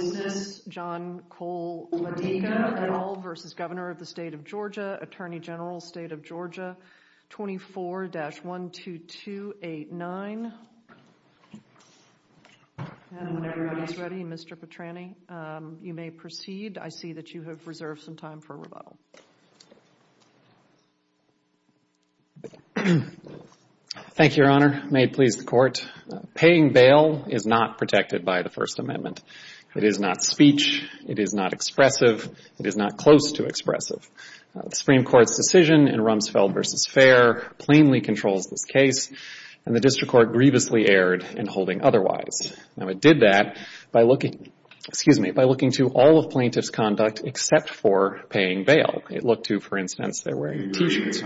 v. Governor of the State of Georgia, Attorney General, State of Georgia, 24-12289. And when everybody's ready, Mr. Petrani, you may proceed. I see that you have reserved some time for rebuttal. Thank you, Your Honor. May it please the Court. Paying bail is not protected by the First Amendment. It is not speech. It is not expressive. It is not close to expressive. The Supreme Court's decision in Rumsfeld v. Fair plainly controls this case, and the District Court grievously erred in holding otherwise. Now, it did that by looking to all of plaintiff's conduct except for paying bail. It looked to, for instance, their wearing T-shirts.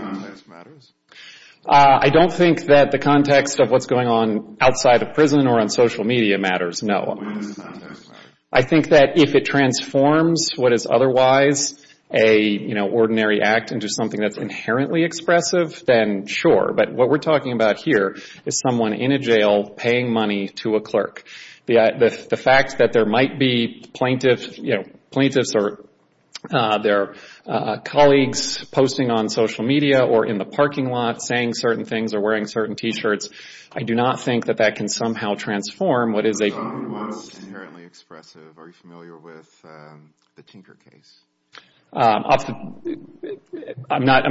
I don't think that the context of what's going on outside of prison or on social media matters, no. I think that if it transforms what is otherwise a, you know, ordinary act into something that's inherently expressive, then sure. But what we're talking about here is someone in a jail paying money to a clerk. The fact that there might be plaintiffs or their colleagues posting on social media or in the parking lot saying certain things or wearing certain T-shirts, I do not think that that can somehow transform what is a... So, what's inherently expressive? Are you familiar with the Tinker case? I'm not.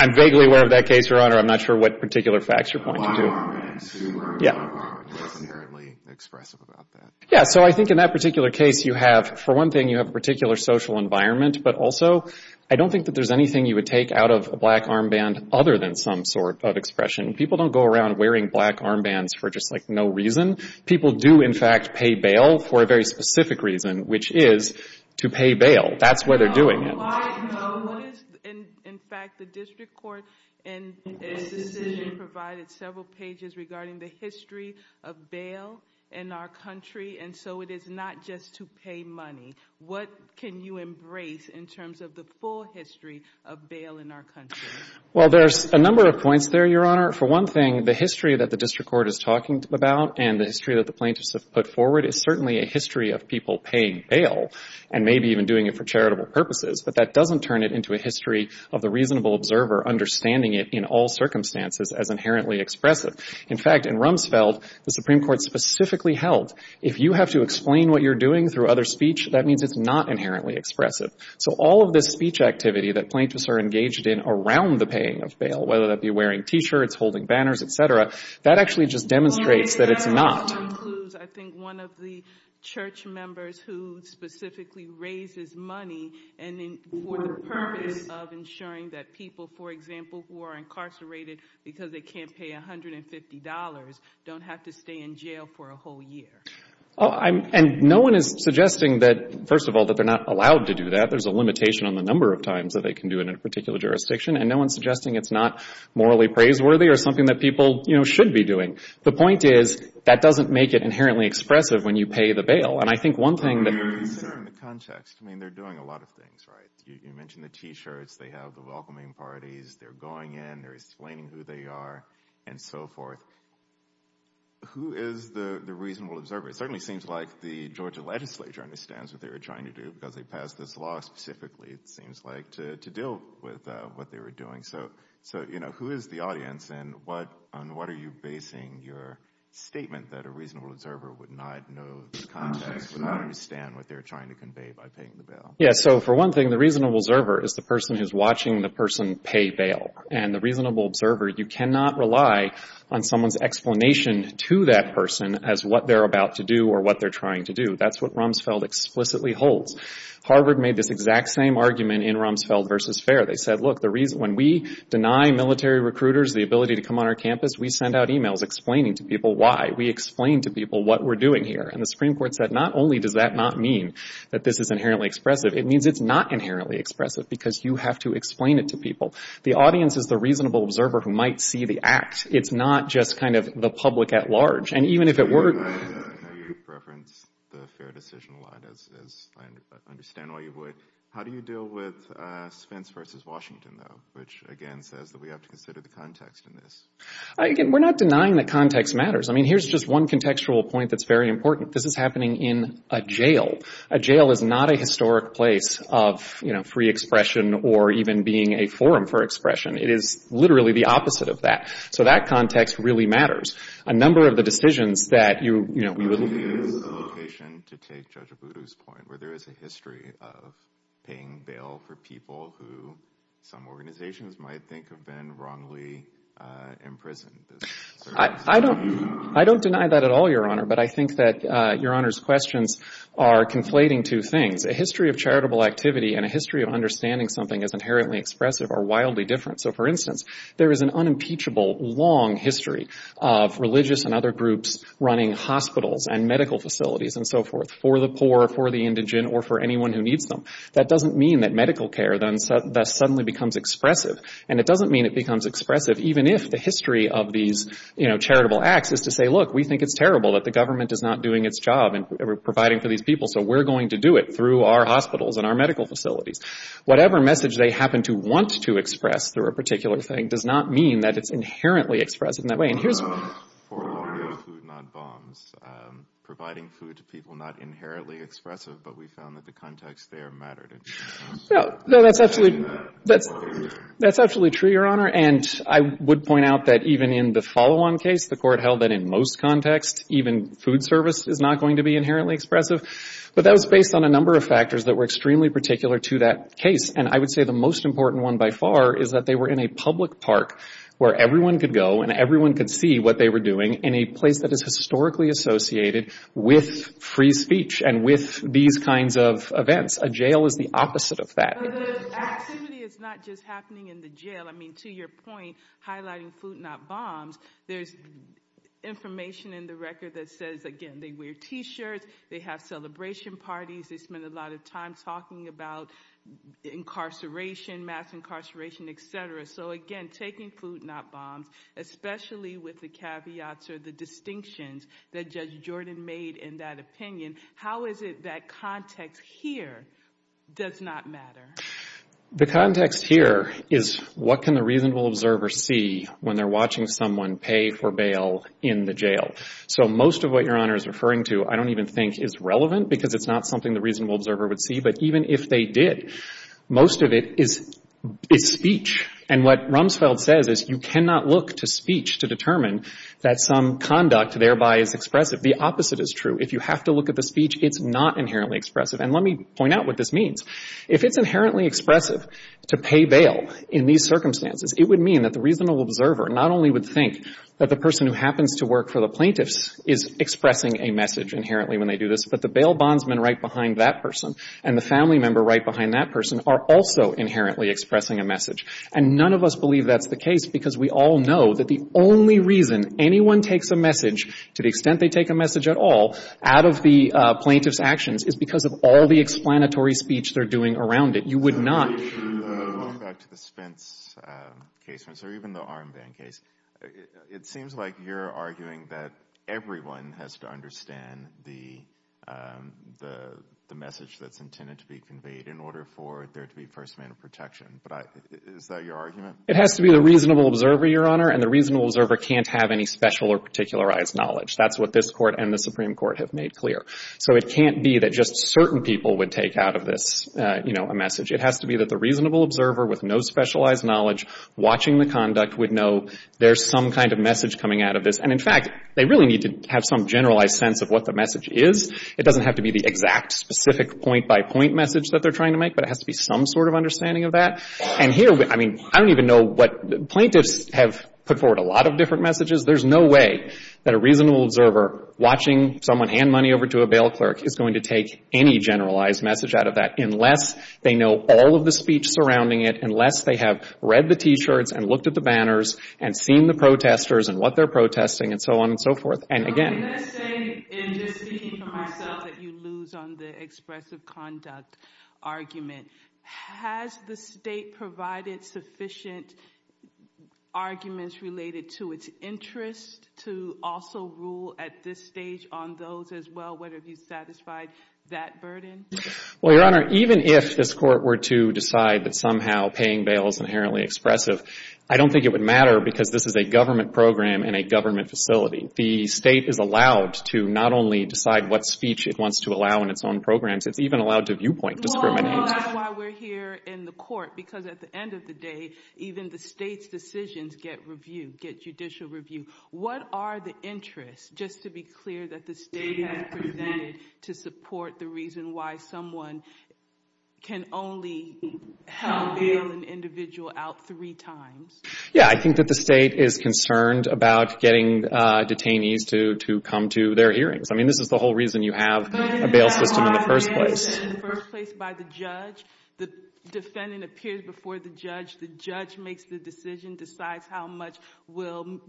I'm vaguely aware of that case, Your Honor. I'm not sure what particular facts you're pointing to. The black armband. Yeah. So, you wear a black armband. What's inherently expressive about that? Yeah. So, I think in that particular case, you have, for one thing, you have a particular social environment, but also I don't think that there's anything you would take out of a black armband other than some sort of expression. People don't go around wearing black armbands for just, like, no reason. People do, in fact, pay bail for a very specific reason, which is to pay bail. That's why they're doing it. No. Why? No. What is... In fact, the district court in this decision provided several pages regarding the history of bail in our country, and so it is not just to pay money. What can you embrace in terms of the full history of bail in our country? Well, there's a number of points there, Your Honor. For one thing, the history that the district court is talking about and the history that the plaintiffs have put forward is certainly a history of people paying bail and maybe even doing it for charitable purposes, but that doesn't turn it into a history of the reasonable observer understanding it in all circumstances as inherently expressive. In fact, in Rumsfeld, the Supreme Court specifically held if you have to explain what you're doing through other speech, that means it's not inherently expressive. So all of this speech activity that plaintiffs are engaged in around the paying of bail, whether that be wearing T-shirts, holding banners, et cetera, that actually just demonstrates that it's not. Your Honor, I think that includes, I think, one of the church members who specifically raises money for the purpose of ensuring that people, for example, who are incarcerated because they can't pay $150 don't have to stay in jail for a whole year. Oh, and no one is suggesting that, first of all, that they're not allowed to do that. There's a limitation on the number of times that they can do it in a particular jurisdiction, and no one is suggesting it's not morally praiseworthy or something that people should be doing. The point is that doesn't make it inherently expressive when you pay the bail, and I think one thing that I'm very concerned with the context. I mean, they're doing a lot of things, right? You mentioned the T-shirts. They have the welcoming parties. They're going in. They're explaining who they are and so forth. Who is the reasonable observer? It certainly seems like the Georgia legislature understands what they were trying to do because they passed this law specifically, it seems like, to deal with what they were doing. So who is the audience, and on what are you basing your statement that a reasonable observer would not know the context, would not understand what they're trying to convey by paying the Yeah, so for one thing, the reasonable observer is the person who's watching the person pay bail. And the reasonable observer, you cannot rely on someone's explanation to that person as what they're about to do or what they're trying to do. That's what Rumsfeld explicitly holds. Harvard made this exact same argument in Rumsfeld versus Fair. They said, look, when we deny military recruiters the ability to come on our campus, we send out emails explaining to people why. We explain to people what we're doing here, and the Supreme Court said not only does that not mean that this is inherently expressive, it means it's not inherently expressive because you have to explain it to people. The audience is the reasonable observer who might see the act. It's not just kind of the public at large. And even if it were I know you reference the Fair decision a lot, as I understand why you would. How do you deal with Spence versus Washington, though, which, again, says that we have to consider the context in this? Again, we're not denying that context matters. I mean, here's just one contextual point that's very important. This is happening in a jail. A jail is not a historic place of, you know, free expression or even being a forum for expression. It is literally the opposite of that. So that context really matters. A number of the decisions that you, you know, we would Would you use a location to take Judge Abudu's point where there is a history of paying bail for people who some organizations might think have been wrongly imprisoned? I don't deny that at all, Your Honor. But I think that Your Honor's questions are conflating two things. A history of charitable activity and a history of understanding something as inherently expressive are wildly different. So, for instance, there is an unimpeachable, long history of religious and other groups running hospitals and medical facilities and so forth for the poor, for the indigent, or for anyone who needs them. That doesn't mean that medical care then suddenly becomes expressive. And it doesn't mean it becomes expressive even if the history of these, you know, charitable acts is to say, look, we think it's terrible that the government is not doing its job in providing for these people, so we're going to do it through our hospitals and our medical facilities. Whatever message they happen to want to express through a particular thing does not mean that it's inherently expressive in that way. And here's For longer food, not bombs. Providing food to people not inherently expressive, but we found that the context there mattered. No. No. That's absolutely That's absolutely true, Your Honor. And I would point out that even in the follow-on case, the court held that in most contexts, even food service is not going to be inherently expressive. But that was based on a number of factors that were extremely particular to that case. And I would say the most important one by far is that they were in a public park where everyone could go and everyone could see what they were doing in a place that is historically associated with free speech and with these kinds of events. A jail is the opposite of that. The activity is not just happening in the jail. I mean, to your point, highlighting food, not bombs, there's information in the record that says, again, they wear t-shirts, they have celebration parties, they spend a lot of time talking about incarceration, mass incarceration, et cetera. So again, taking food, not bombs, especially with the caveats or the distinctions that Judge Jordan made in that opinion. How is it that context here does not matter? The context here is what can the reasonable observer see when they're watching someone pay for bail in the jail? So most of what Your Honor is referring to I don't even think is relevant because it's not something the reasonable observer would see. But even if they did, most of it is speech. And what Rumsfeld says is you cannot look to speech to determine that some conduct thereby is expressive. The opposite is true. If you have to look at the speech, it's not inherently expressive. And let me point out what this means. If it's inherently expressive to pay bail in these circumstances, it would mean that the reasonable observer not only would think that the person who happens to work for the plaintiffs is expressing a message inherently when they do this, but the bail bondsman right behind that person and the family member right behind that person are also inherently expressing a message. And none of us believe that's the case because we all know that the only reason anyone takes a message, to the extent they take a message at all, out of the plaintiff's actions is because of all the explanatory speech they're doing around it. You would not. Going back to the Spence case or even the Armband case, it seems like you're arguing that everyone has to understand the message that's intended to be conveyed in order for there to be first-amend protection. Is that your argument? It has to be the reasonable observer, Your Honor, and the reasonable observer can't have any special or particularized knowledge. That's what this Court and the Supreme Court have made clear. So it can't be that just certain people would take out of this, you know, a message. It has to be that the reasonable observer with no specialized knowledge watching the conduct would know there's some kind of message coming out of this. And in fact, they really need to have some generalized sense of what the message is. It doesn't have to be the exact, specific point-by-point message that they're trying to make, but it has to be some sort of understanding of that. And here, I mean, I don't even know what plaintiffs have put forward a lot of different messages. There's no way that a reasonable observer watching someone hand money over to a bail clerk is going to take any generalized message out of that unless they know all of the speech surrounding it, unless they have read the T-shirts and looked at the banners and seen the protesters and what they're protesting and so on and so forth. And again— I'm going to say, in just speaking for myself, that you lose on the expressive conduct argument. Has the State provided sufficient arguments related to its interest to also rule at this stage on those as well, whether you satisfied that burden? Well, Your Honor, even if this Court were to decide that somehow paying bail is inherently expressive, I don't think it would matter because this is a government program in a government facility. The State is allowed to not only decide what speech it wants to allow in its own programs, it's even allowed to viewpoint discriminate. Well, that's why we're here in the Court, because at the end of the day, even the State's decisions get reviewed, get judicial review. What are the interests, just to be clear, that the State has presented to support the reason why someone can only bail an individual out three times? Yeah, I think that the State is concerned about getting detainees to come to their hearings. I mean, this is the whole reason you have a bail system in the first place. But in the first place, by the judge, the defendant appears before the judge, the judge makes the decision, decides how much will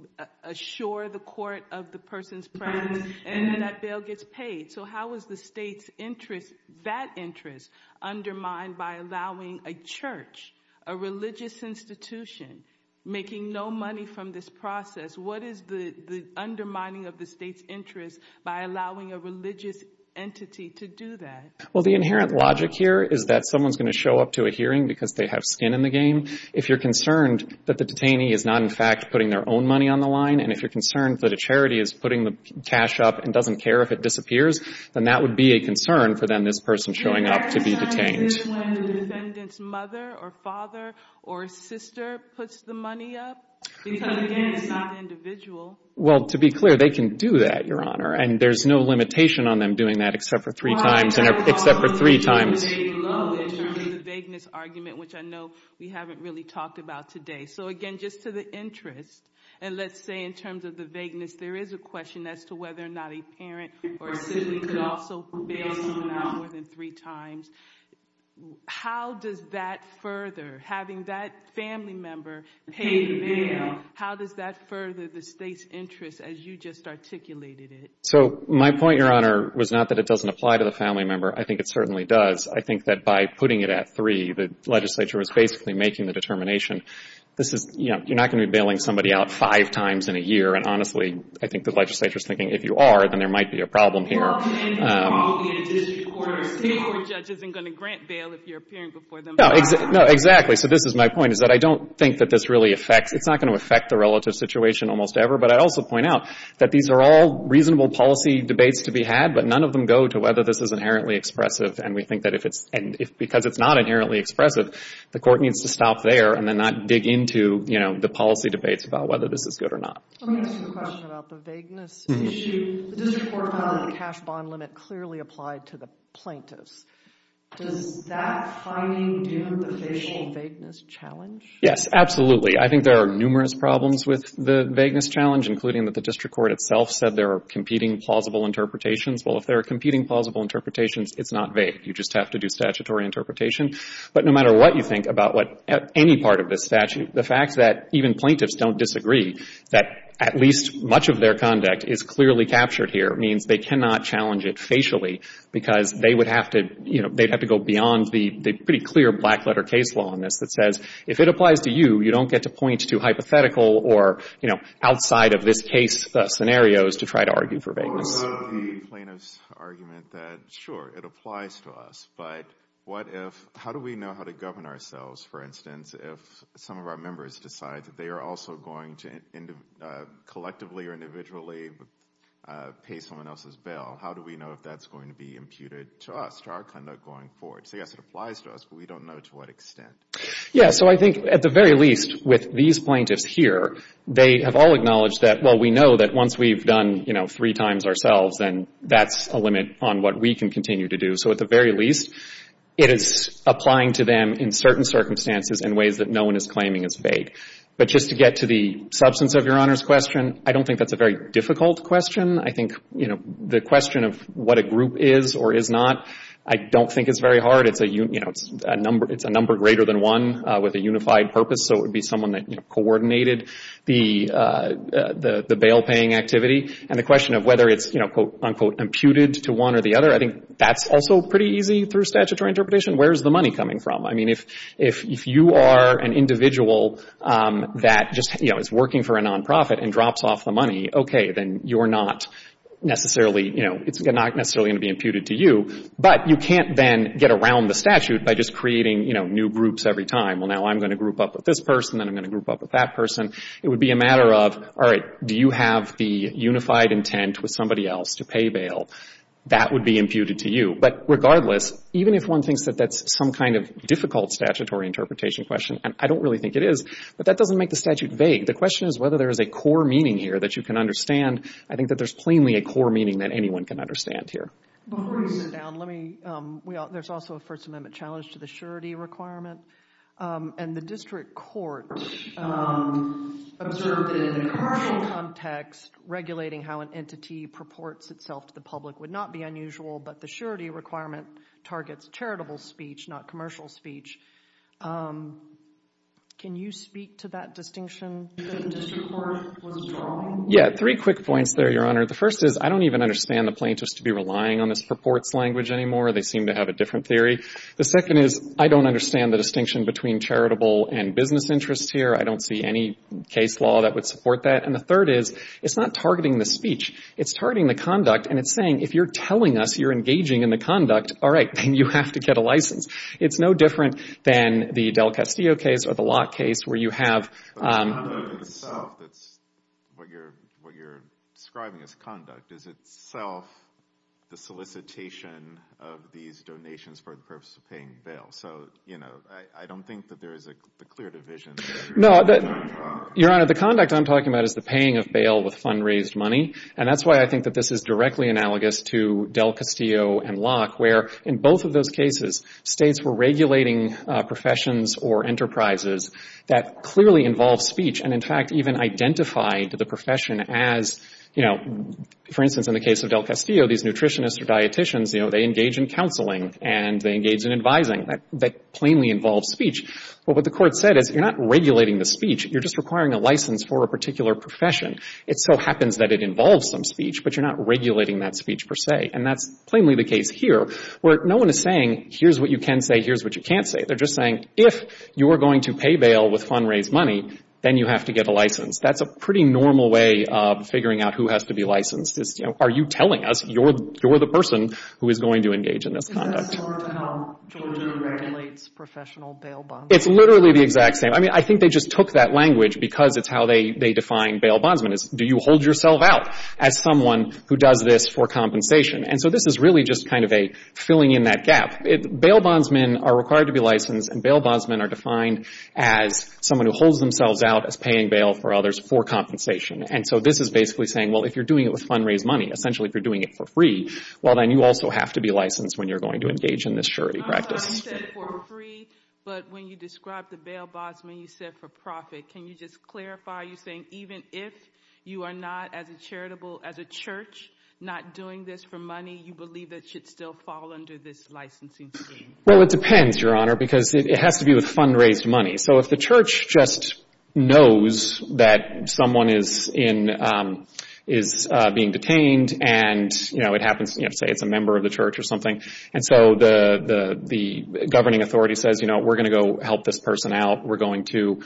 assure the court of the person's presence, and then that bail gets paid. So how is the State's interest, that interest, undermined by allowing a church, a religious institution, making no money from this process? What is the undermining of the State's interest by allowing a religious entity to do that? Well, the inherent logic here is that someone's going to show up to a hearing because they have skin in the game. If you're concerned that the detainee is not, in fact, putting their own money on the line, and if you're concerned that a charity is putting the cash up and doesn't care if it disappears, then that would be a concern for them, this person showing up to be detained. Is this when the defendant's mother or father or sister puts the money up? Because, again, it's not individual. Well, to be clear, they can do that, Your Honor, and there's no limitation on them doing that except for three times. Well, I'm talking about the legal aid alone in terms of the vagueness argument, which I know we haven't really talked about today. So, again, just to the interest, and let's say in terms of the vagueness, there is a question as to whether or not a parent or a sibling could also bail someone out more than three times. How does that further, having that family member pay the bail, how does that further the State's interest as you just articulated it? So my point, Your Honor, was not that it doesn't apply to the family member. I think it certainly does. I think that by putting it at three, the legislature was basically making the determination, this is, you know, you're not going to be bailing somebody out five times in a year, and, honestly, I think the legislature is thinking, if you are, then there might be a problem here. Well, and it's probably in a district court or a state court judge isn't going to grant bail if you're appearing before them five times. No, exactly. So this is my point, is that I don't think that this really affects, it's not going to affect the relative situation almost ever. But I'd also point out that these are all reasonable policy debates to be had, but none of them go to whether this is inherently expressive, and we think that if it's, and because it's not inherently expressive, the court needs to stop there and then not dig into, you know, the policy debates about whether this is good or not. Let me ask you a question about the vagueness issue. The district court found that the cash bond limit clearly applied to the plaintiffs. Does that finding do the facial vagueness challenge? Yes, absolutely. I think there are numerous problems with the vagueness challenge, including that the district court itself said there are competing plausible interpretations. Well, if there are competing plausible interpretations, it's not vague. You just have to do statutory interpretation. But no matter what you think about what any part of this statute, the fact that even plaintiffs don't disagree, that at least much of their conduct is clearly captured here means they cannot challenge it facially because they would have to, you know, they'd have to go beyond the pretty clear black letter case law on this that says if it applies to you, you don't get to point to hypothetical or, you know, outside of this case scenarios to try to argue for vagueness. What about the plaintiff's argument that, sure, it applies to us, but what if, how do we know how to govern ourselves, for instance, if some of our members decide that they are also going to collectively or individually pay someone else's bill? How do we know if that's going to be imputed to us, to our conduct going forward? So, yes, it applies to us, but we don't know to what extent. Yeah, so I think at the very least with these plaintiffs here, they have all acknowledged that, well, we know that once we've done, you know, three times ourselves, then that's a limit on what we can continue to do. So at the very least, it is applying to them in certain circumstances in ways that no one is claiming is vague. But just to get to the substance of Your Honor's question, I don't think that's a very difficult question. I think, you know, the question of what a group is or is not, I don't think it's very hard. It's a, you know, it's a number greater than one with a unified purpose. So it would be someone that, you know, coordinated the bail-paying activity. And the question of whether it's, you know, unquote, imputed to one or the other, I think that's also pretty easy through statutory interpretation. Where is the money coming from? I mean, if you are an individual that just, you know, is working for a nonprofit and drops off the money, okay, then you're not necessarily, you know, it's not necessarily going to be imputed to you. But you can't then get around the statute by just creating, you know, new groups every time. Well, now I'm going to group up with this person and I'm going to group up with that person. It would be a matter of, all right, do you have the unified intent with somebody else to pay bail? That would be imputed to you. But regardless, even if one thinks that that's some kind of difficult statutory interpretation question, and I don't really think it is, but that doesn't make the statute vague. The question is whether there is a core meaning here that you can understand. I think that there's plainly a core meaning that anyone can understand here. Before you sit down, let me, there's also a First Amendment challenge to the surety requirement. And the district court observed that in a cardinal context, regulating how an entity purports itself to the public would not be unusual, but the surety requirement targets charitable speech, not commercial speech. Can you speak to that distinction that the district court was drawing? Yeah. Three quick points there, Your Honor. The first is, I don't even understand the plaintiffs to be relying on this purports language anymore. They seem to have a different theory. The second is, I don't understand the distinction between charitable and business interests here. I don't see any case law that would support that. And the third is, it's not targeting the speech. It's targeting the conduct. And it's saying, if you're telling us you're engaging in the conduct, all right, then you have to get a license. It's no different than the Del Castillo case or the Locke case where you have But the conduct itself, what you're describing as conduct, is itself the solicitation of these donations for the purpose of paying bail. So, you know, I don't think that there is a clear division there. No, Your Honor, the conduct I'm talking about is the paying of bail with fund-raised money. And that's why I think that this is directly analogous to Del Castillo and Locke, where in both of those cases, states were regulating professions or enterprises that clearly involved speech and, in fact, even identified the profession as, you know, for instance, in the case of Del Castillo, these nutritionists or dieticians, you know, they engage in counseling and they engage in advising. That plainly involves speech. But what the court said is, you're not regulating the speech. You're just requiring a license for a particular profession. It so happens that it involves some speech, but you're not regulating that speech per se. And that's plainly the case here, where no one is saying, here's what you can say, here's what you can't say. They're just saying, if you're going to pay bail with fund-raised money, then you have to get a license. That's a pretty normal way of figuring out who has to be licensed. It's, you know, are you telling us you're the person who is going to engage in this conduct? Is that similar to how Georgia regulates professional bail bonds? It's literally the exact same. I mean, I think they just took that language because it's how they define bail bondsmen, is do you hold yourself out as someone who does this for compensation? And so this is really just kind of a filling in that gap. Bail bondsmen are required to be licensed and bail bondsmen are defined as someone who holds themselves out as paying bail for others for compensation. And so this is basically saying, well, if you're doing it with fund-raised money, essentially if you're doing it for free, well, then you also have to be licensed when you're going to engage in this surety practice. You said for free, but when you described the bail bondsmen, you said for profit. Can you just clarify, you're saying even if you are not as a charitable, as a church, not doing this for money, you believe it should still fall under this licensing scheme? Well, it depends, Your Honor, because it has to be with fund-raised money. So if the church just knows that someone is being detained and, you know, it happens, you know, say it's a member of the church or something, and so the governing authority says, you know, we're going to go help this person out, we're going to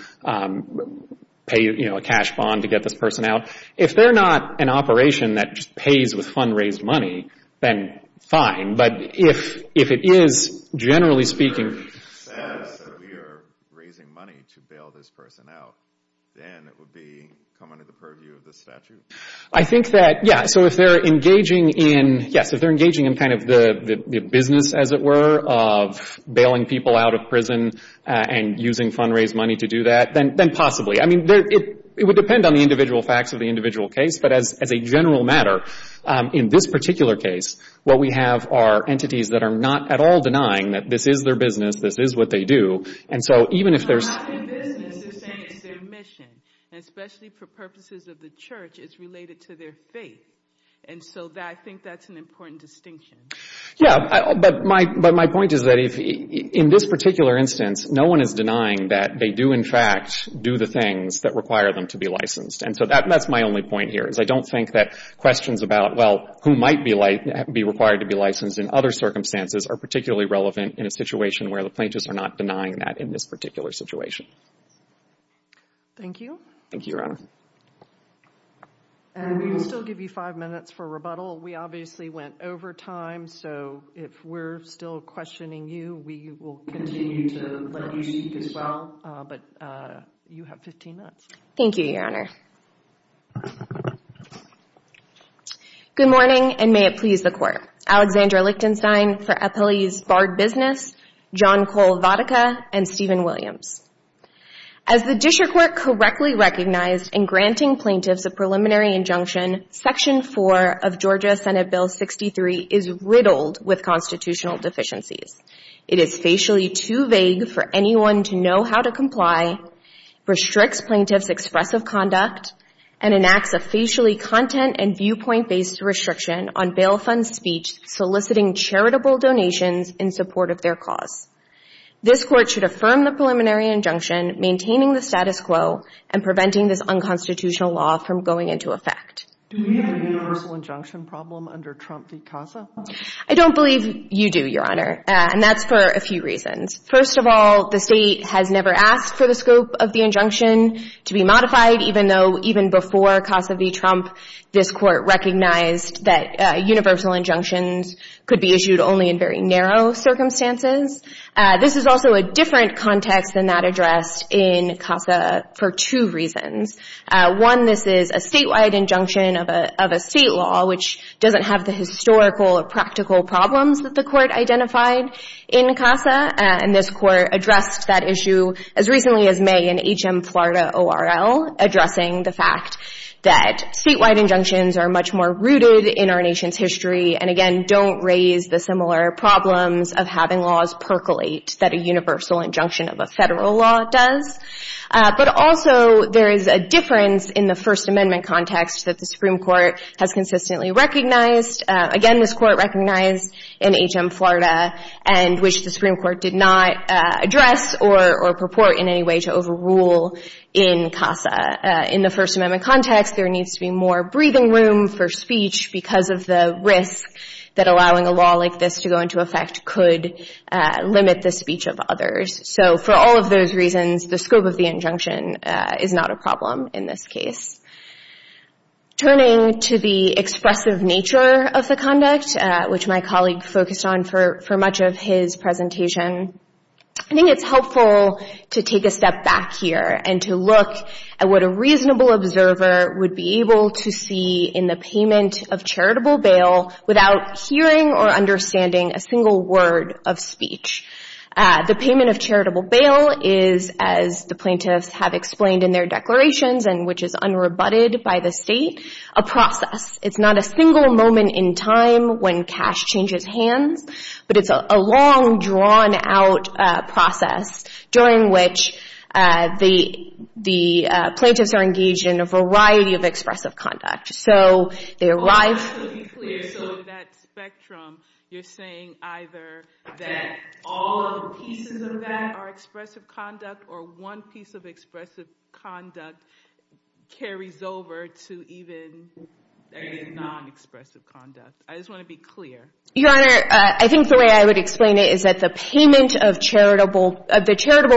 pay, you know, a cash bond to get this person out. If they're not an operation that just pays with fund-raised money, then fine. But if it is, generally speaking... If it says that we are raising money to bail this person out, then it would be coming to the purview of the statute? I think that, yeah, so if they're engaging in, yes, if they're engaging in kind of the business, as it were, of bailing people out of prison and using fund-raised money to do that, then possibly. I mean, it would depend on the individual facts of the individual case, but as a general matter, in this particular case, what we have are entities that are not at all denying that this is their business, this is what they do, and so even if there's... If they're not in business, they're saying it's their mission, and especially for purposes of the church, it's related to their faith, and so I think that's an important distinction. Yeah, but my point is that in this particular instance, no one is denying that they do, in fact, do the things that require them to be licensed, and so that's my only point here, is I don't think that questions about, well, who might be required to be licensed in other circumstances are particularly relevant in a situation where the plaintiffs are not denying that in this particular situation. Thank you. Thank you, Your Honor. And we will still give you five minutes for rebuttal. We obviously went over time, so if we're still questioning you, we will continue to let you speak as well, but you have 15 minutes. Thank you, Your Honor. Good morning, and may it please the Court. I'm Alexandra Lichtenstein for Appellees Bard Business, John Cole Vodica, and Stephen Williams. As the district court correctly recognized in granting plaintiffs a preliminary injunction, Section 4 of Georgia Senate Bill 63 is riddled with constitutional deficiencies. It is facially too vague for anyone to know how to comply, restricts plaintiffs' expressive conduct, and enacts a facially content and viewpoint-based restriction on bail fund speech soliciting charitable donations in support of their cause. This Court should affirm the preliminary injunction, maintaining the status quo, and preventing this unconstitutional law from going into effect. Do we have a universal injunction problem under Trump v. CASA? I don't believe you do, Your Honor, and that's for a few reasons. First of all, the state has never asked for the scope of the injunction to be modified, even though even before CASA v. Trump, this Court recognized that universal injunctions could be issued only in very narrow circumstances. This is also a different context than that addressed in CASA for two reasons. One, this is a statewide injunction of a state law, which doesn't have the historical or practical problems that the Court identified in CASA, and this Court addressed that issue as recently as May in H.M. Florida O.R.L., addressing the fact that statewide injunctions are much more rooted in our nation's history and, again, don't raise the similar problems of having laws percolate that a universal injunction of a federal law does. But also there is a difference in the First Amendment context that the Supreme Court has consistently recognized. Again, this Court recognized in H.M. Florida and which the Supreme Court did not address or purport in any way to overrule in CASA. In the First Amendment context, there needs to be more breathing room for speech because of the risk that allowing a law like this to go into effect could limit the speech of others. So for all of those reasons, the scope of the injunction is not a problem in this case. Turning to the expressive nature of the conduct, which my colleague focused on for much of his presentation, I think it's helpful to take a step back here and to look at what a reasonable observer would be able to see in the payment of charitable bail without hearing or understanding a single word of speech. The payment of charitable bail is, as the plaintiffs have explained in their declarations and which is unrebutted by the state, a process. It's not a single moment in time when cash changes hands, but it's a long, drawn-out process during which the plaintiffs are engaged in a variety of expressive conduct. So they arrive... So that spectrum, you're saying either that all of the pieces of that are expressive conduct or one piece of expressive conduct carries over to even non-expressive conduct. I just want to be clear. Your Honor, I think the way I would explain it is that the charitable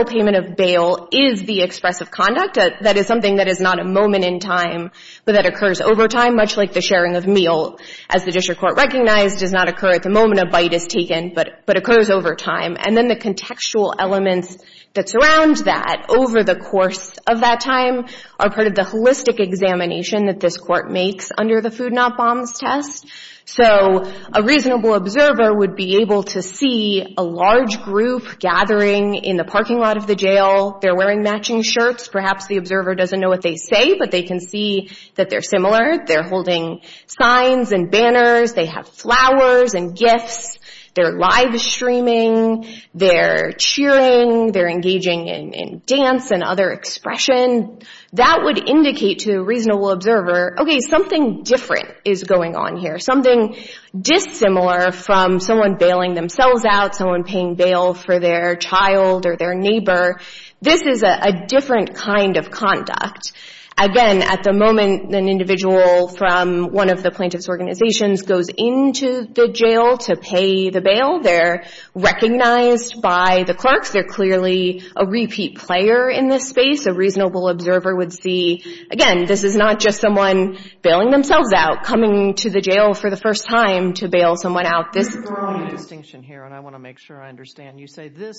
payment of bail is the expressive conduct. That is something that is not a moment in time, but that occurs over time, much like the sharing of meal. As the district court recognized, it does not occur at the moment a bite is taken, but occurs over time. And then the contextual elements that surround that over the course of that time are part of the holistic examination that this court makes under the Food Not Bombs test. So a reasonable observer would be able to see a large group gathering in the parking lot of the jail. They're wearing matching shirts. Perhaps the observer doesn't know what they say, but they can see that they're similar. They're holding signs and banners. They have flowers and gifts. They're live-streaming. They're cheering. They're engaging in dance and other expression. That would indicate to a reasonable observer, okay, something different is going on here, something dissimilar from someone bailing themselves out, someone paying bail for their child or their neighbor. This is a different kind of conduct. Again, at the moment, an individual from one of the plaintiff's organizations goes into the jail to pay the bail. They're recognized by the clerks. They're clearly a repeat player in this space. A reasonable observer would see, again, this is not just someone bailing themselves out, coming to the jail for the first time to bail someone out. There's a distinction here, and I want to make sure I understand. You say the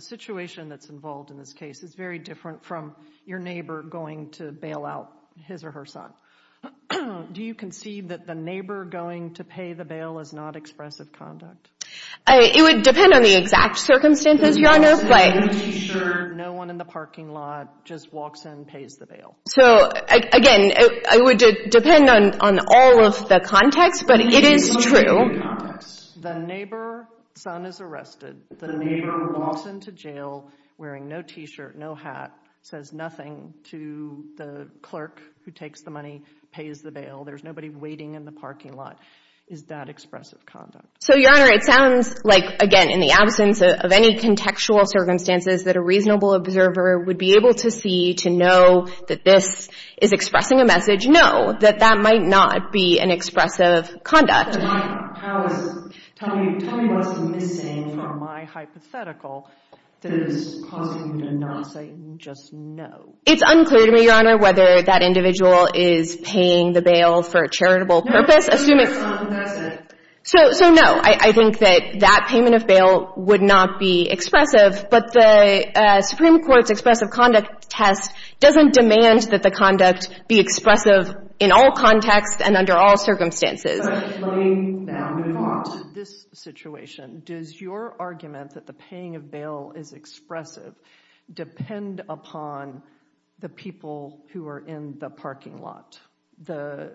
situation that's involved in this case is very different from your neighbor going to bail out his or her son. Do you concede that the neighbor going to pay the bail is not expressive conduct? It would depend on the exact circumstances, Your Honor. Are you sure no one in the parking lot just walks in and pays the bail? So, again, it would depend on all of the context, but it is true. The neighbor's son is arrested. The neighbor walks into jail wearing no T-shirt, no hat, says nothing to the clerk who takes the money, pays the bail. There's nobody waiting in the parking lot. Is that expressive conduct? So, Your Honor, it sounds like, again, in the absence of any contextual circumstances, that a reasonable observer would be able to see to know that this is expressing a message, no, that that might not be an expressive conduct. Tell me what's missing from my hypothetical that is causing you to not say just no. It's unclear to me, Your Honor, whether that individual is paying the bail for a charitable purpose. No, that's it. So, no, I think that that payment of bail would not be expressive, but the Supreme Court's expressive conduct test doesn't demand that the conduct be expressive in all contexts and under all circumstances. So, in this situation, does your argument that the paying of bail is expressive depend upon the people who are in the parking lot, the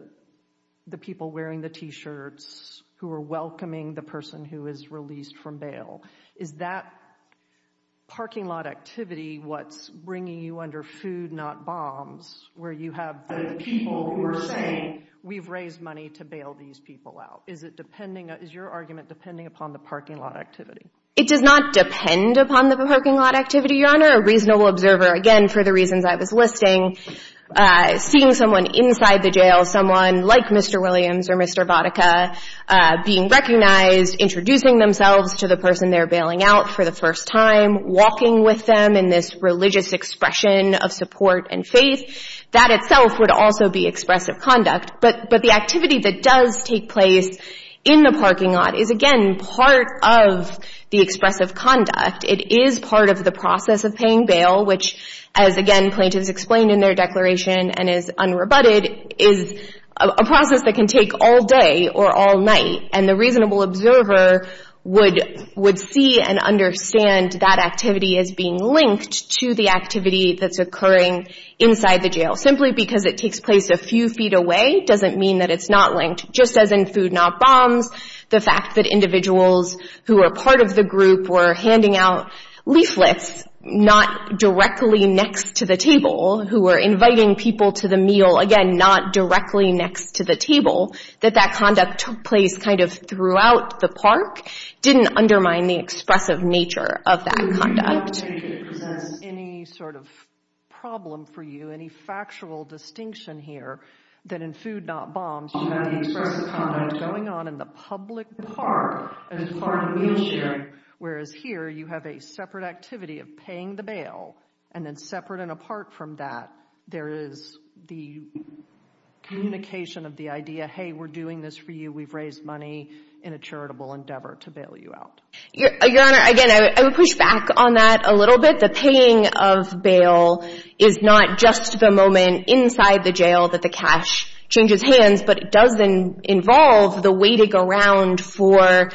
people wearing the T-shirts who are welcoming the person who is released from bail? Is that parking lot activity what's bringing you under food, not bombs, where you have the people who are saying, we've raised money to bail these people out? Is it depending, is your argument depending upon the parking lot activity? It does not depend upon the parking lot activity, Your Honor. A reasonable observer, again, for the reasons I was listing, seeing someone inside the jail, someone like Mr. Williams or Mr. Vodicka, being recognized, introducing themselves to the person they're bailing out for the first time, walking with them in this religious expression of support and faith, that itself would also be expressive conduct. But the activity that does take place in the parking lot is, again, part of the expressive conduct. It is part of the process of paying bail, which, as, again, plaintiffs explained in their declaration and is unrebutted, is a process that can take all day or all night. And the reasonable observer would see and understand that activity as being linked to the activity that's occurring inside the jail. Simply because it takes place a few feet away doesn't mean that it's not linked. Just as in Food Not Bombs, the fact that individuals who were part of the group were handing out leaflets not directly next to the table, who were inviting people to the meal, again, not directly next to the table, that that conduct took place kind of throughout the park didn't undermine the expressive nature of that conduct. I don't think it presents any sort of problem for you, any factual distinction here, that in Food Not Bombs you have the expressive conduct going on in the public park as part of meal sharing, whereas here you have a separate activity of paying the bail. And then separate and apart from that, there is the communication of the idea, hey, we're doing this for you, we've raised money in a charitable endeavor to bail you out. Your Honor, again, I would push back on that a little bit. The paying of bail is not just the moment inside the jail that the cash changes hands, but it does involve the waiting around for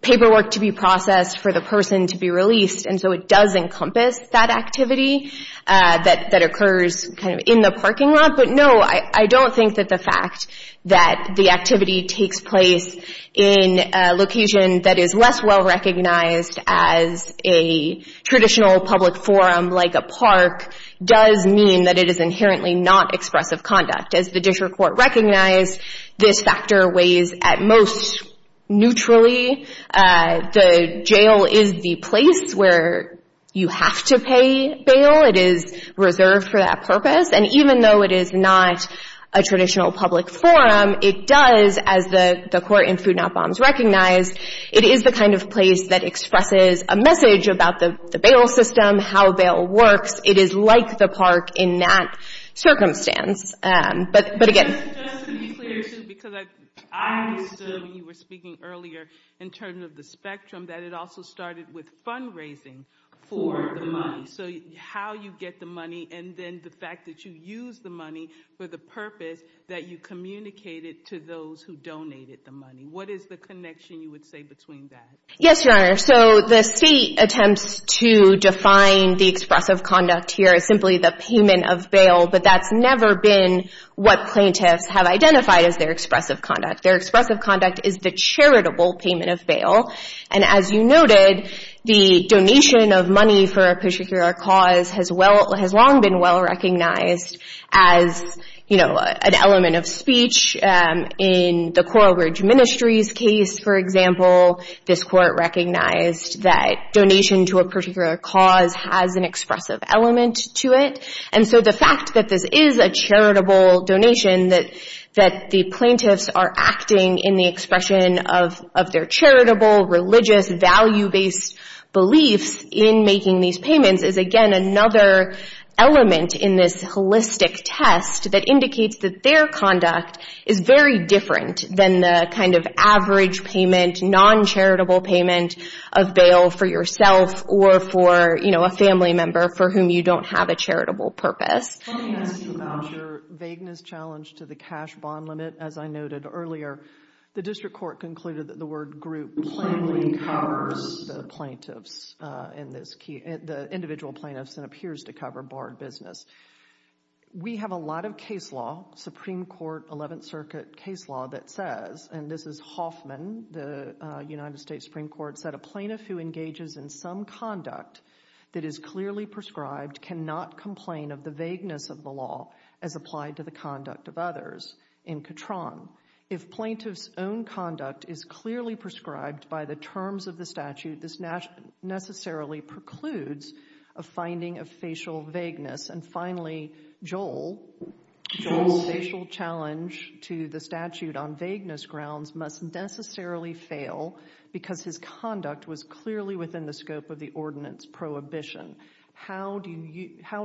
paperwork to be processed, for the person to be released. And so it does encompass that activity that occurs kind of in the parking lot. But no, I don't think that the fact that the activity takes place in a location that is less well-recognized as a traditional public forum like a park does mean that it is inherently not expressive conduct. As the District Court recognized, this factor weighs at most neutrally. The jail is the place where you have to pay bail. It is reserved for that purpose. And even though it is not a traditional public forum, it does, as the court in Food Not Bombs recognized, it is the kind of place that expresses a message about the bail system, how bail works. It is like the park in that circumstance. But again— Just to be clear, too, because I understood when you were speaking earlier in terms of the spectrum, that it also started with fundraising for the money. So how you get the money and then the fact that you use the money for the purpose that you communicated to those who donated the money. What is the connection you would say between that? Yes, Your Honor. So the state attempts to define the expressive conduct here as simply the payment of bail, but that's never been what plaintiffs have identified as their expressive conduct. Their expressive conduct is the charitable payment of bail. And as you noted, the donation of money for a particular cause has long been well recognized as an element of speech. In the Coral Bridge Ministries case, for example, this court recognized that donation to a particular cause has an expressive element to it. And so the fact that this is a charitable donation, that the plaintiffs are acting in the expression of their charitable, religious, value-based beliefs in making these payments, is again another element in this holistic test that indicates that their conduct is very different than the kind of average payment, non-charitable payment of bail for yourself or for, you know, a family member for whom you don't have a charitable purpose. Let me ask you about your vagueness challenge to the cash bond limit. As I noted earlier, the district court concluded that the word group plainly covers the plaintiffs in this case, the individual plaintiffs, and appears to cover barred business. We have a lot of case law, Supreme Court 11th Circuit case law, that says, and this is Hoffman, the United States Supreme Court, that a plaintiff who engages in some conduct that is clearly prescribed cannot complain of the vagueness of the law as applied to the conduct of others, in Catron. If plaintiff's own conduct is clearly prescribed by the terms of the statute, this necessarily precludes a finding of facial vagueness. And finally, Joel, Joel's facial challenge to the statute on vagueness grounds must necessarily fail because his conduct was clearly within the scope of the ordinance prohibition. How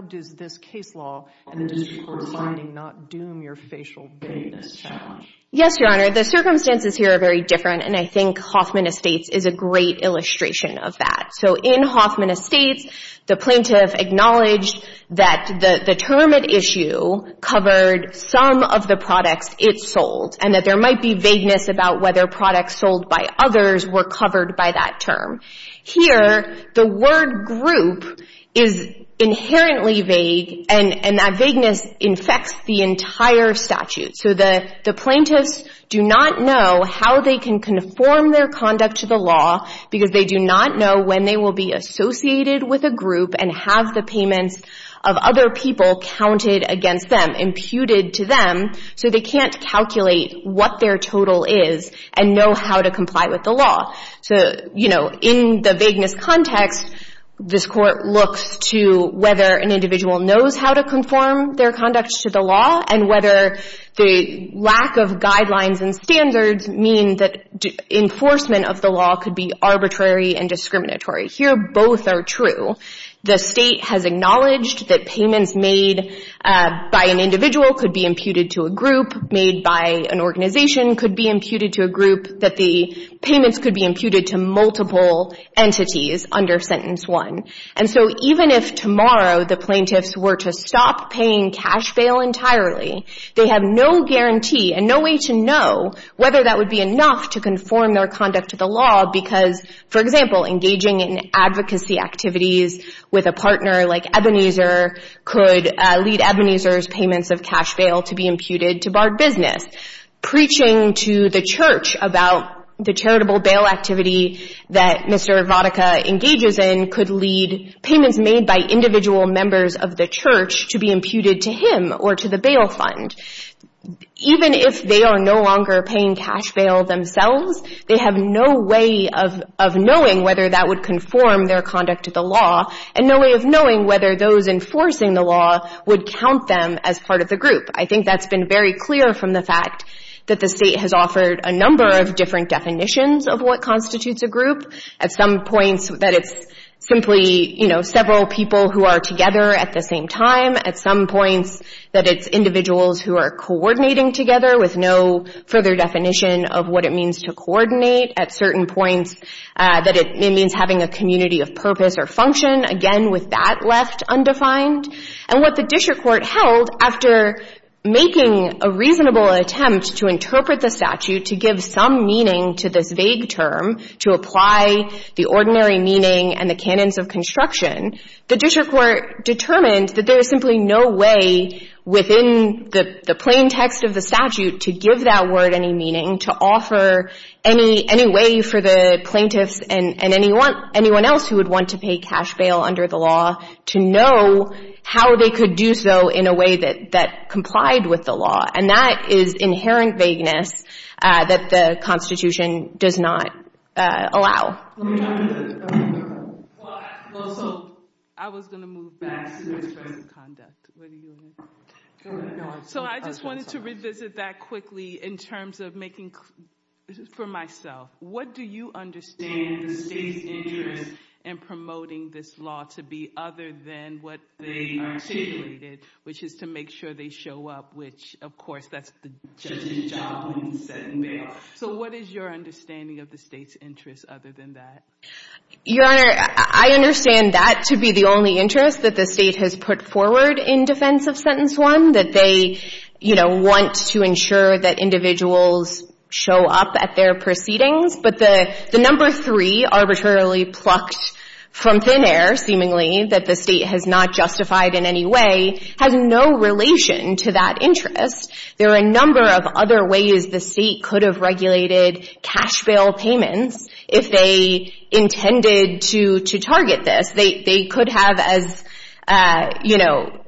does this case law and the district court finding not doom your facial vagueness challenge? Yes, Your Honor, the circumstances here are very different, and I think Hoffman Estates is a great illustration of that. So in Hoffman Estates, the plaintiff acknowledged that the term at issue covered some of the products it sold and that there might be vagueness about whether products sold by others were covered by that term. Here, the word group is inherently vague, and that vagueness infects the entire statute. So the plaintiffs do not know how they can conform their conduct to the law because they do not know when they will be associated with a group and have the payments of other people counted against them, imputed to them, so they can't calculate what their total is and know how to comply with the law. So, you know, in the vagueness context, this court looks to whether an individual knows how to conform their conduct to the law and whether the lack of guidelines and standards mean that enforcement of the law could be arbitrary and discriminatory. Here, both are true. The state has acknowledged that payments made by an individual could be imputed to a group, made by an organization could be imputed to a group, that the payments could be imputed to multiple entities under Sentence 1. And so even if tomorrow the plaintiffs were to stop paying cash bail entirely, they have no guarantee and no way to know whether that would be enough to conform their conduct to the law because, for example, engaging in advocacy activities with a partner like Ebenezer could lead Ebenezer's payments of cash bail to be imputed to Barred Business. Preaching to the church about the charitable bail activity that Mr. Vodicka engages in could lead payments made by individual members of the church to be imputed to him or to the bail fund. Even if they are no longer paying cash bail themselves, they have no way of knowing whether that would conform their conduct to the law and no way of knowing whether those enforcing the law would count them as part of the group. I think that's been very clear from the fact that the state has offered a number of different definitions of what constitutes a group. At some points that it's simply, you know, several people who are together at the same time. At some points that it's individuals who are coordinating together with no further definition of what it means to coordinate. At certain points that it means having a community of purpose or function. Again, with that left undefined. And what the district court held after making a reasonable attempt to interpret the statute to give some meaning to this vague term to apply the ordinary meaning and the canons of construction, the district court determined that there is simply no way within the plain text of the statute to give that word any meaning to offer any way for the plaintiffs and anyone else who would want to pay cash bail under the law to know how they could do so in a way that complied with the law. And that is inherent vagueness that the Constitution does not allow. Well, so I was going to move back to the expressive conduct. So I just wanted to revisit that quickly in terms of making, for myself, what do you understand the state's interest in promoting this law to be other than what they articulated, which is to make sure they show up, which, of course, that's the judge's job when he's setting bail. So what is your understanding of the state's interest other than that? Your Honor, I understand that to be the only interest that the state has put forward in defense of Sentence 1, that they want to ensure that individuals show up at their proceedings. But the number three arbitrarily plucked from thin air, seemingly, that the state has not justified in any way, has no relation to that interest. There are a number of other ways the state could have regulated cash bail payments if they intended to target this. They could have, as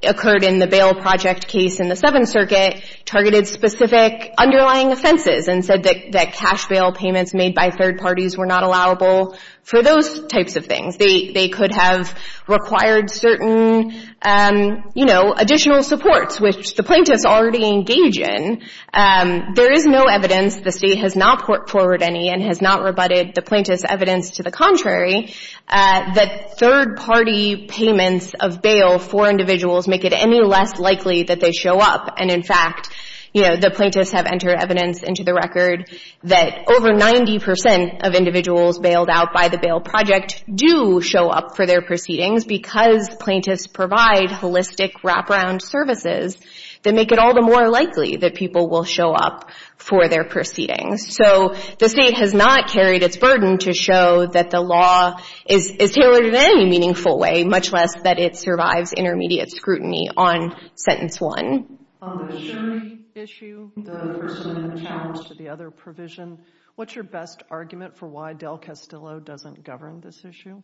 occurred in the bail project case in the Seventh Circuit, targeted specific underlying offenses and said that cash bail payments made by third parties were not allowable for those types of things. They could have required certain additional supports, which the plaintiffs already engage in. There is no evidence, the state has not put forward any and has not rebutted the plaintiff's evidence to the contrary, that third-party payments of bail for individuals make it any less likely that they show up. And, in fact, you know, the plaintiffs have entered evidence into the record that over 90 percent of individuals bailed out by the bail project do show up for their proceedings because plaintiffs provide holistic wraparound services that make it all the more likely that people will show up for their proceedings. So the state has not carried its burden to show that the law is tailored in any meaningful way, much less that it survives intermediate scrutiny on Sentence 1. On the Sherry issue, the person in charge to the other provision, what's your best argument for why Del Castillo doesn't govern this issue?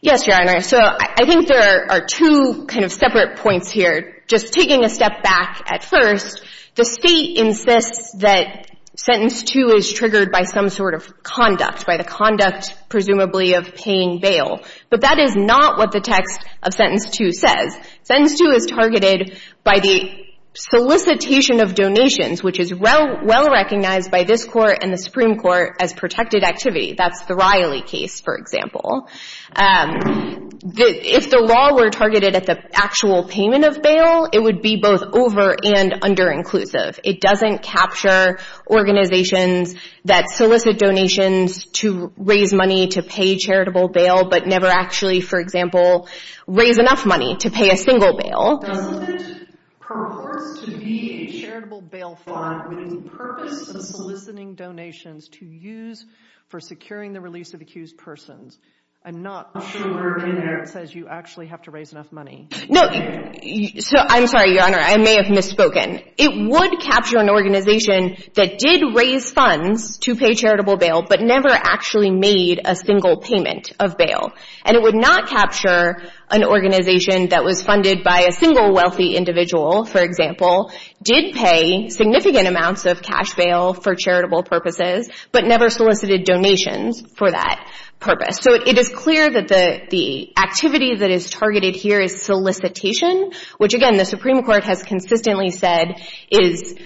Yes, Your Honor. So I think there are two kind of separate points here. Just taking a step back at first, the State insists that Sentence 2 is triggered by some sort of conduct, by the conduct presumably of paying bail. But that is not what the text of Sentence 2 says. Sentence 2 is targeted by the solicitation of donations, which is well recognized by this Court and the Supreme Court as protected activity. That's the Riley case, for example. If the law were targeted at the actual payment of bail, it would be both over- and under-inclusive. It doesn't capture organizations that solicit donations to raise money to pay charitable bail but never actually, for example, raise enough money to pay a single bail. Doesn't it purport to be a charitable bail fund with the purpose of soliciting donations to use for securing the release of accused persons? I'm not sure in there it says you actually have to raise enough money. No. I'm sorry, Your Honor. I may have misspoken. It would capture an organization that did raise funds to pay charitable bail but never actually made a single payment of bail. And it would not capture an organization that was funded by a single wealthy individual, for example, did pay significant amounts of cash bail for charitable purposes but never solicited donations for that purpose. So it is clear that the activity that is targeted here is solicitation, which, again, the Supreme Court has consistently said is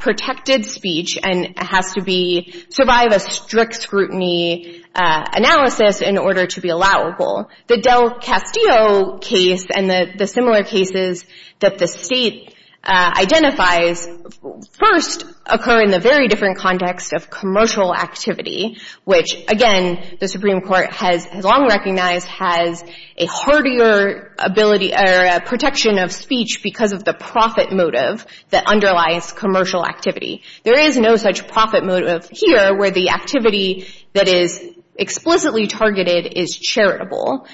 protected speech and has to survive a strict scrutiny analysis in order to be allowable. The Del Castillo case and the similar cases that the State identifies first occur in the very different context of commercial activity, which, again, the Supreme Court has long recognized has a hardier ability or protection of speech because of the profit motive that underlies commercial activity. There is no such profit motive here where the activity that is explicitly targeted is charitable.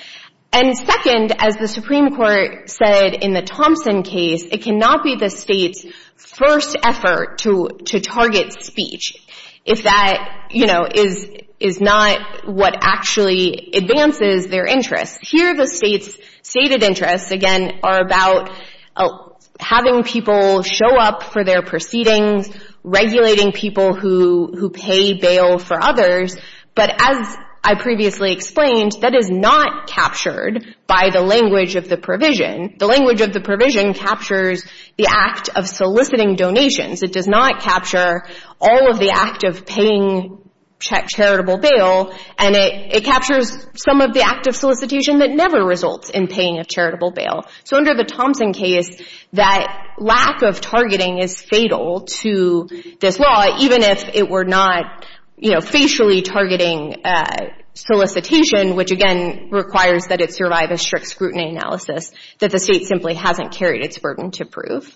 And second, as the Supreme Court said in the Thompson case, it cannot be the State's first effort to target speech if that, you know, is not what actually advances their interests. Here the State's stated interests, again, are about having people show up for their proceedings, regulating people who pay bail for others. But as I previously explained, that is not captured by the language of the provision. The language of the provision captures the act of soliciting donations. It does not capture all of the act of paying charitable bail, and it captures some of the act of solicitation that never results in paying a charitable bail. So under the Thompson case, that lack of targeting is fatal to this law, even if it were not, you know, facially targeting solicitation, which, again, requires that it survive a strict scrutiny analysis that the State simply hasn't carried its burden to prove.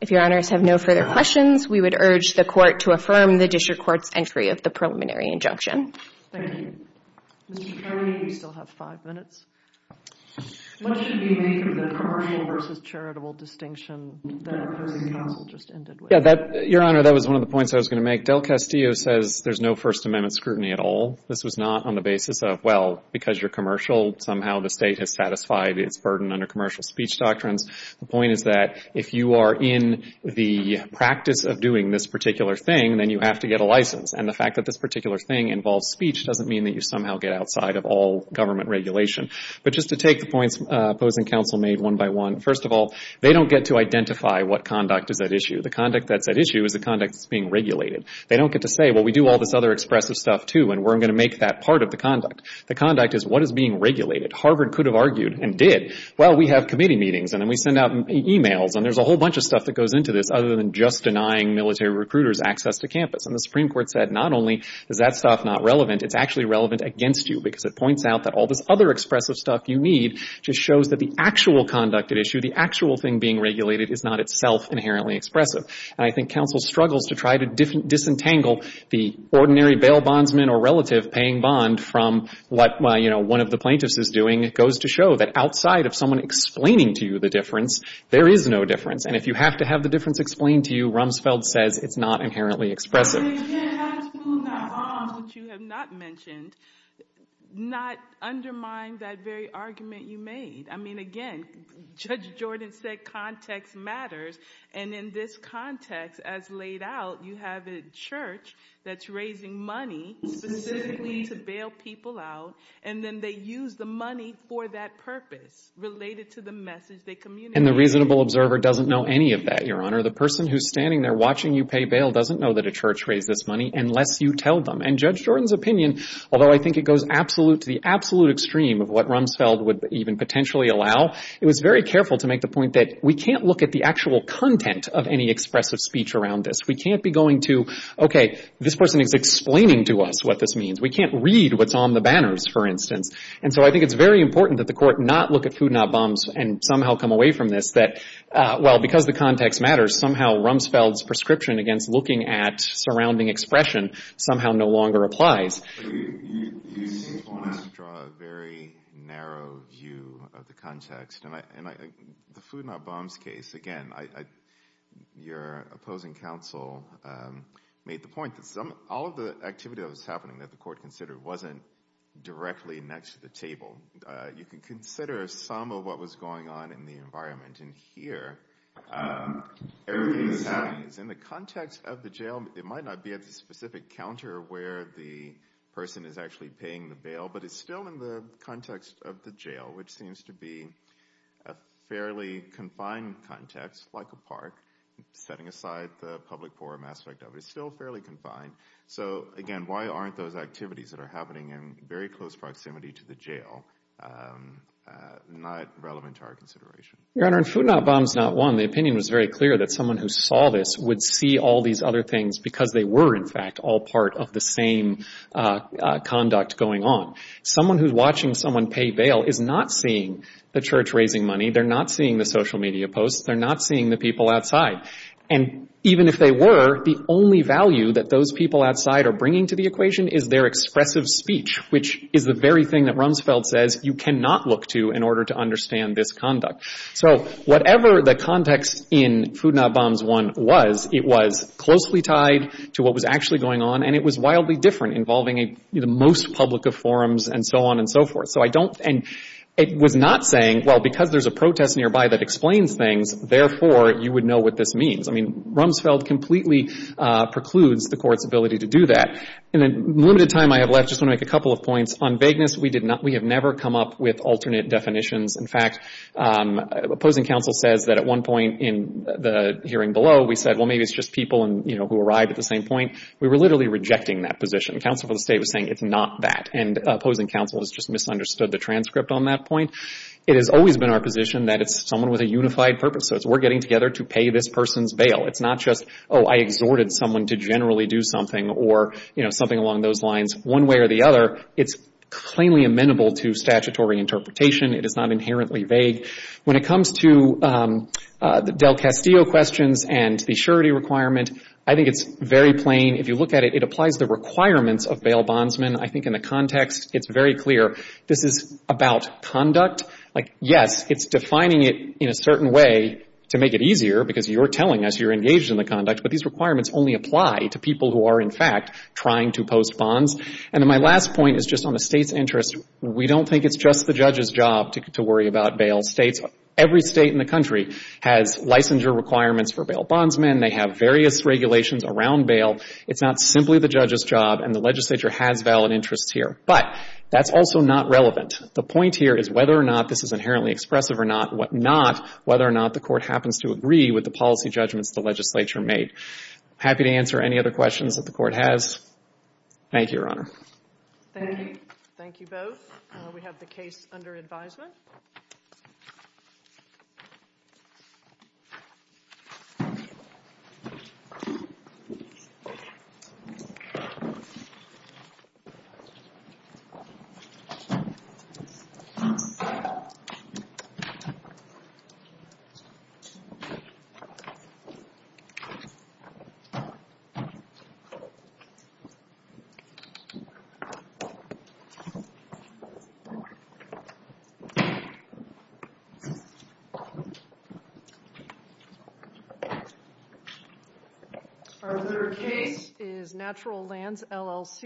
If Your Honors have no further questions, we would urge the Court to affirm the District Court's entry of the preliminary injunction. Thank you. Mr. Kelly, you still have five minutes. What should be made of the commercial versus charitable distinction that opposing counsel just ended with? Your Honor, that was one of the points I was going to make. Del Castillo says there's no First Amendment scrutiny at all. This was not on the basis of, well, because you're commercial, somehow the State has satisfied its burden under commercial speech doctrines. The point is that if you are in the practice of doing this particular thing, then you have to get a license. And the fact that this particular thing involves speech doesn't mean that you somehow get outside of all government regulation. But just to take the points opposing counsel made one by one, first of all, they don't get to identify what conduct is at issue. The conduct that's at issue is the conduct that's being regulated. They don't get to say, well, we do all this other expressive stuff, too, and we're going to make that part of the conduct. The conduct is what is being regulated. Harvard could have argued and did, well, we have committee meetings, and then we send out emails, and there's a whole bunch of stuff that goes into this other than just denying military recruiters access to campus. And the Supreme Court said not only is that stuff not relevant, it's actually relevant against you because it points out that all this other expressive stuff you need just shows that the actual conduct at issue, the actual thing being regulated is not itself inherently expressive. And I think counsel struggles to try to disentangle the ordinary bail bondsman or relative paying bond from what, well, you know, one of the plaintiffs is doing. It goes to show that outside of someone explaining to you the difference, there is no difference. And if you have to have the difference explained to you, it's not inherently expressive. And the reasonable observer doesn't know any of that, Your Honor. The person who's standing there watching you pay bail doesn't know that a church raised this money unless you tell them. And Judge Jordan's opinion, although I think it goes to the absolute extreme of what Rumsfeld would even potentially allow, it was very careful to make the point that we can't look at the actual content of any expressive speech around this. We can't be going to, okay, this person is explaining to us what this means. We can't read what's on the banners, for instance. And so I think it's very important that the court not look at food not bombs and somehow come away from this that, well, because the context matters, somehow Rumsfeld's prescription against looking at surrounding expression somehow no longer applies. You seem to want to draw a very narrow view of the context. And the food not bombs case, again, your opposing counsel made the point that all of the activity that was happening that the court considered wasn't directly next to the table. You can consider some of what was going on in the environment. And here everything that's happening is in the context of the jail. It might not be at the specific counter where the person is actually paying the bail, but it's still in the context of the jail, which seems to be a fairly confined context, like a park, setting aside the public forum aspect of it. It's still fairly confined. So, again, why aren't those activities that are happening in very close proximity to the jail not relevant to our consideration? Your Honor, in food not bombs not one, the opinion was very clear that someone who saw this would see all these other things because they were, in fact, all part of the same conduct going on. Someone who's watching someone pay bail is not seeing the church raising money. They're not seeing the social media posts. They're not seeing the people outside. And even if they were, the only value that those people outside are bringing to the speech, which is the very thing that Rumsfeld says you cannot look to in order to understand this conduct. So whatever the context in food not bombs one was, it was closely tied to what was actually going on and it was wildly different, involving the most public of forums and so on and so forth. And it was not saying, well, because there's a protest nearby that explains things, therefore you would know what this means. I mean, Rumsfeld completely precludes the court's ability to do that. In the limited time I have left, I just want to make a couple of points. On vagueness, we have never come up with alternate definitions. In fact, opposing counsel says that at one point in the hearing below we said, well, maybe it's just people who arrived at the same point. We were literally rejecting that position. Counsel for the State was saying it's not that. And opposing counsel has just misunderstood the transcript on that point. It has always been our position that it's someone with a unified purpose. So it's we're getting together to pay this person's bail. It's not just, oh, I exhorted someone to generally do something or, you know, something along those lines one way or the other. It's plainly amenable to statutory interpretation. It is not inherently vague. When it comes to the Del Castillo questions and the surety requirement, I think it's very plain. If you look at it, it applies the requirements of bail bondsmen, I think, in the context. It's very clear. This is about conduct. Like, yes, it's defining it in a certain way to make it easier because you're telling us you're engaged in the conduct, but these requirements only apply to people who are, in fact, trying to post bonds. And my last point is just on the State's interest. We don't think it's just the judge's job to worry about bail. States, every State in the country has licensure requirements for bail bondsmen. They have various regulations around bail. It's not simply the judge's job, and the legislature has valid interests here. But that's also not relevant. The point here is whether or not this is inherently expressive or not, whether or not the Court happens to agree with the policy judgments the legislature made. Happy to answer any other questions that the Court has. Thank you, Your Honor. Thank you. Thank you both. We have the case under advisement. Our third case is Natural Lands LLC.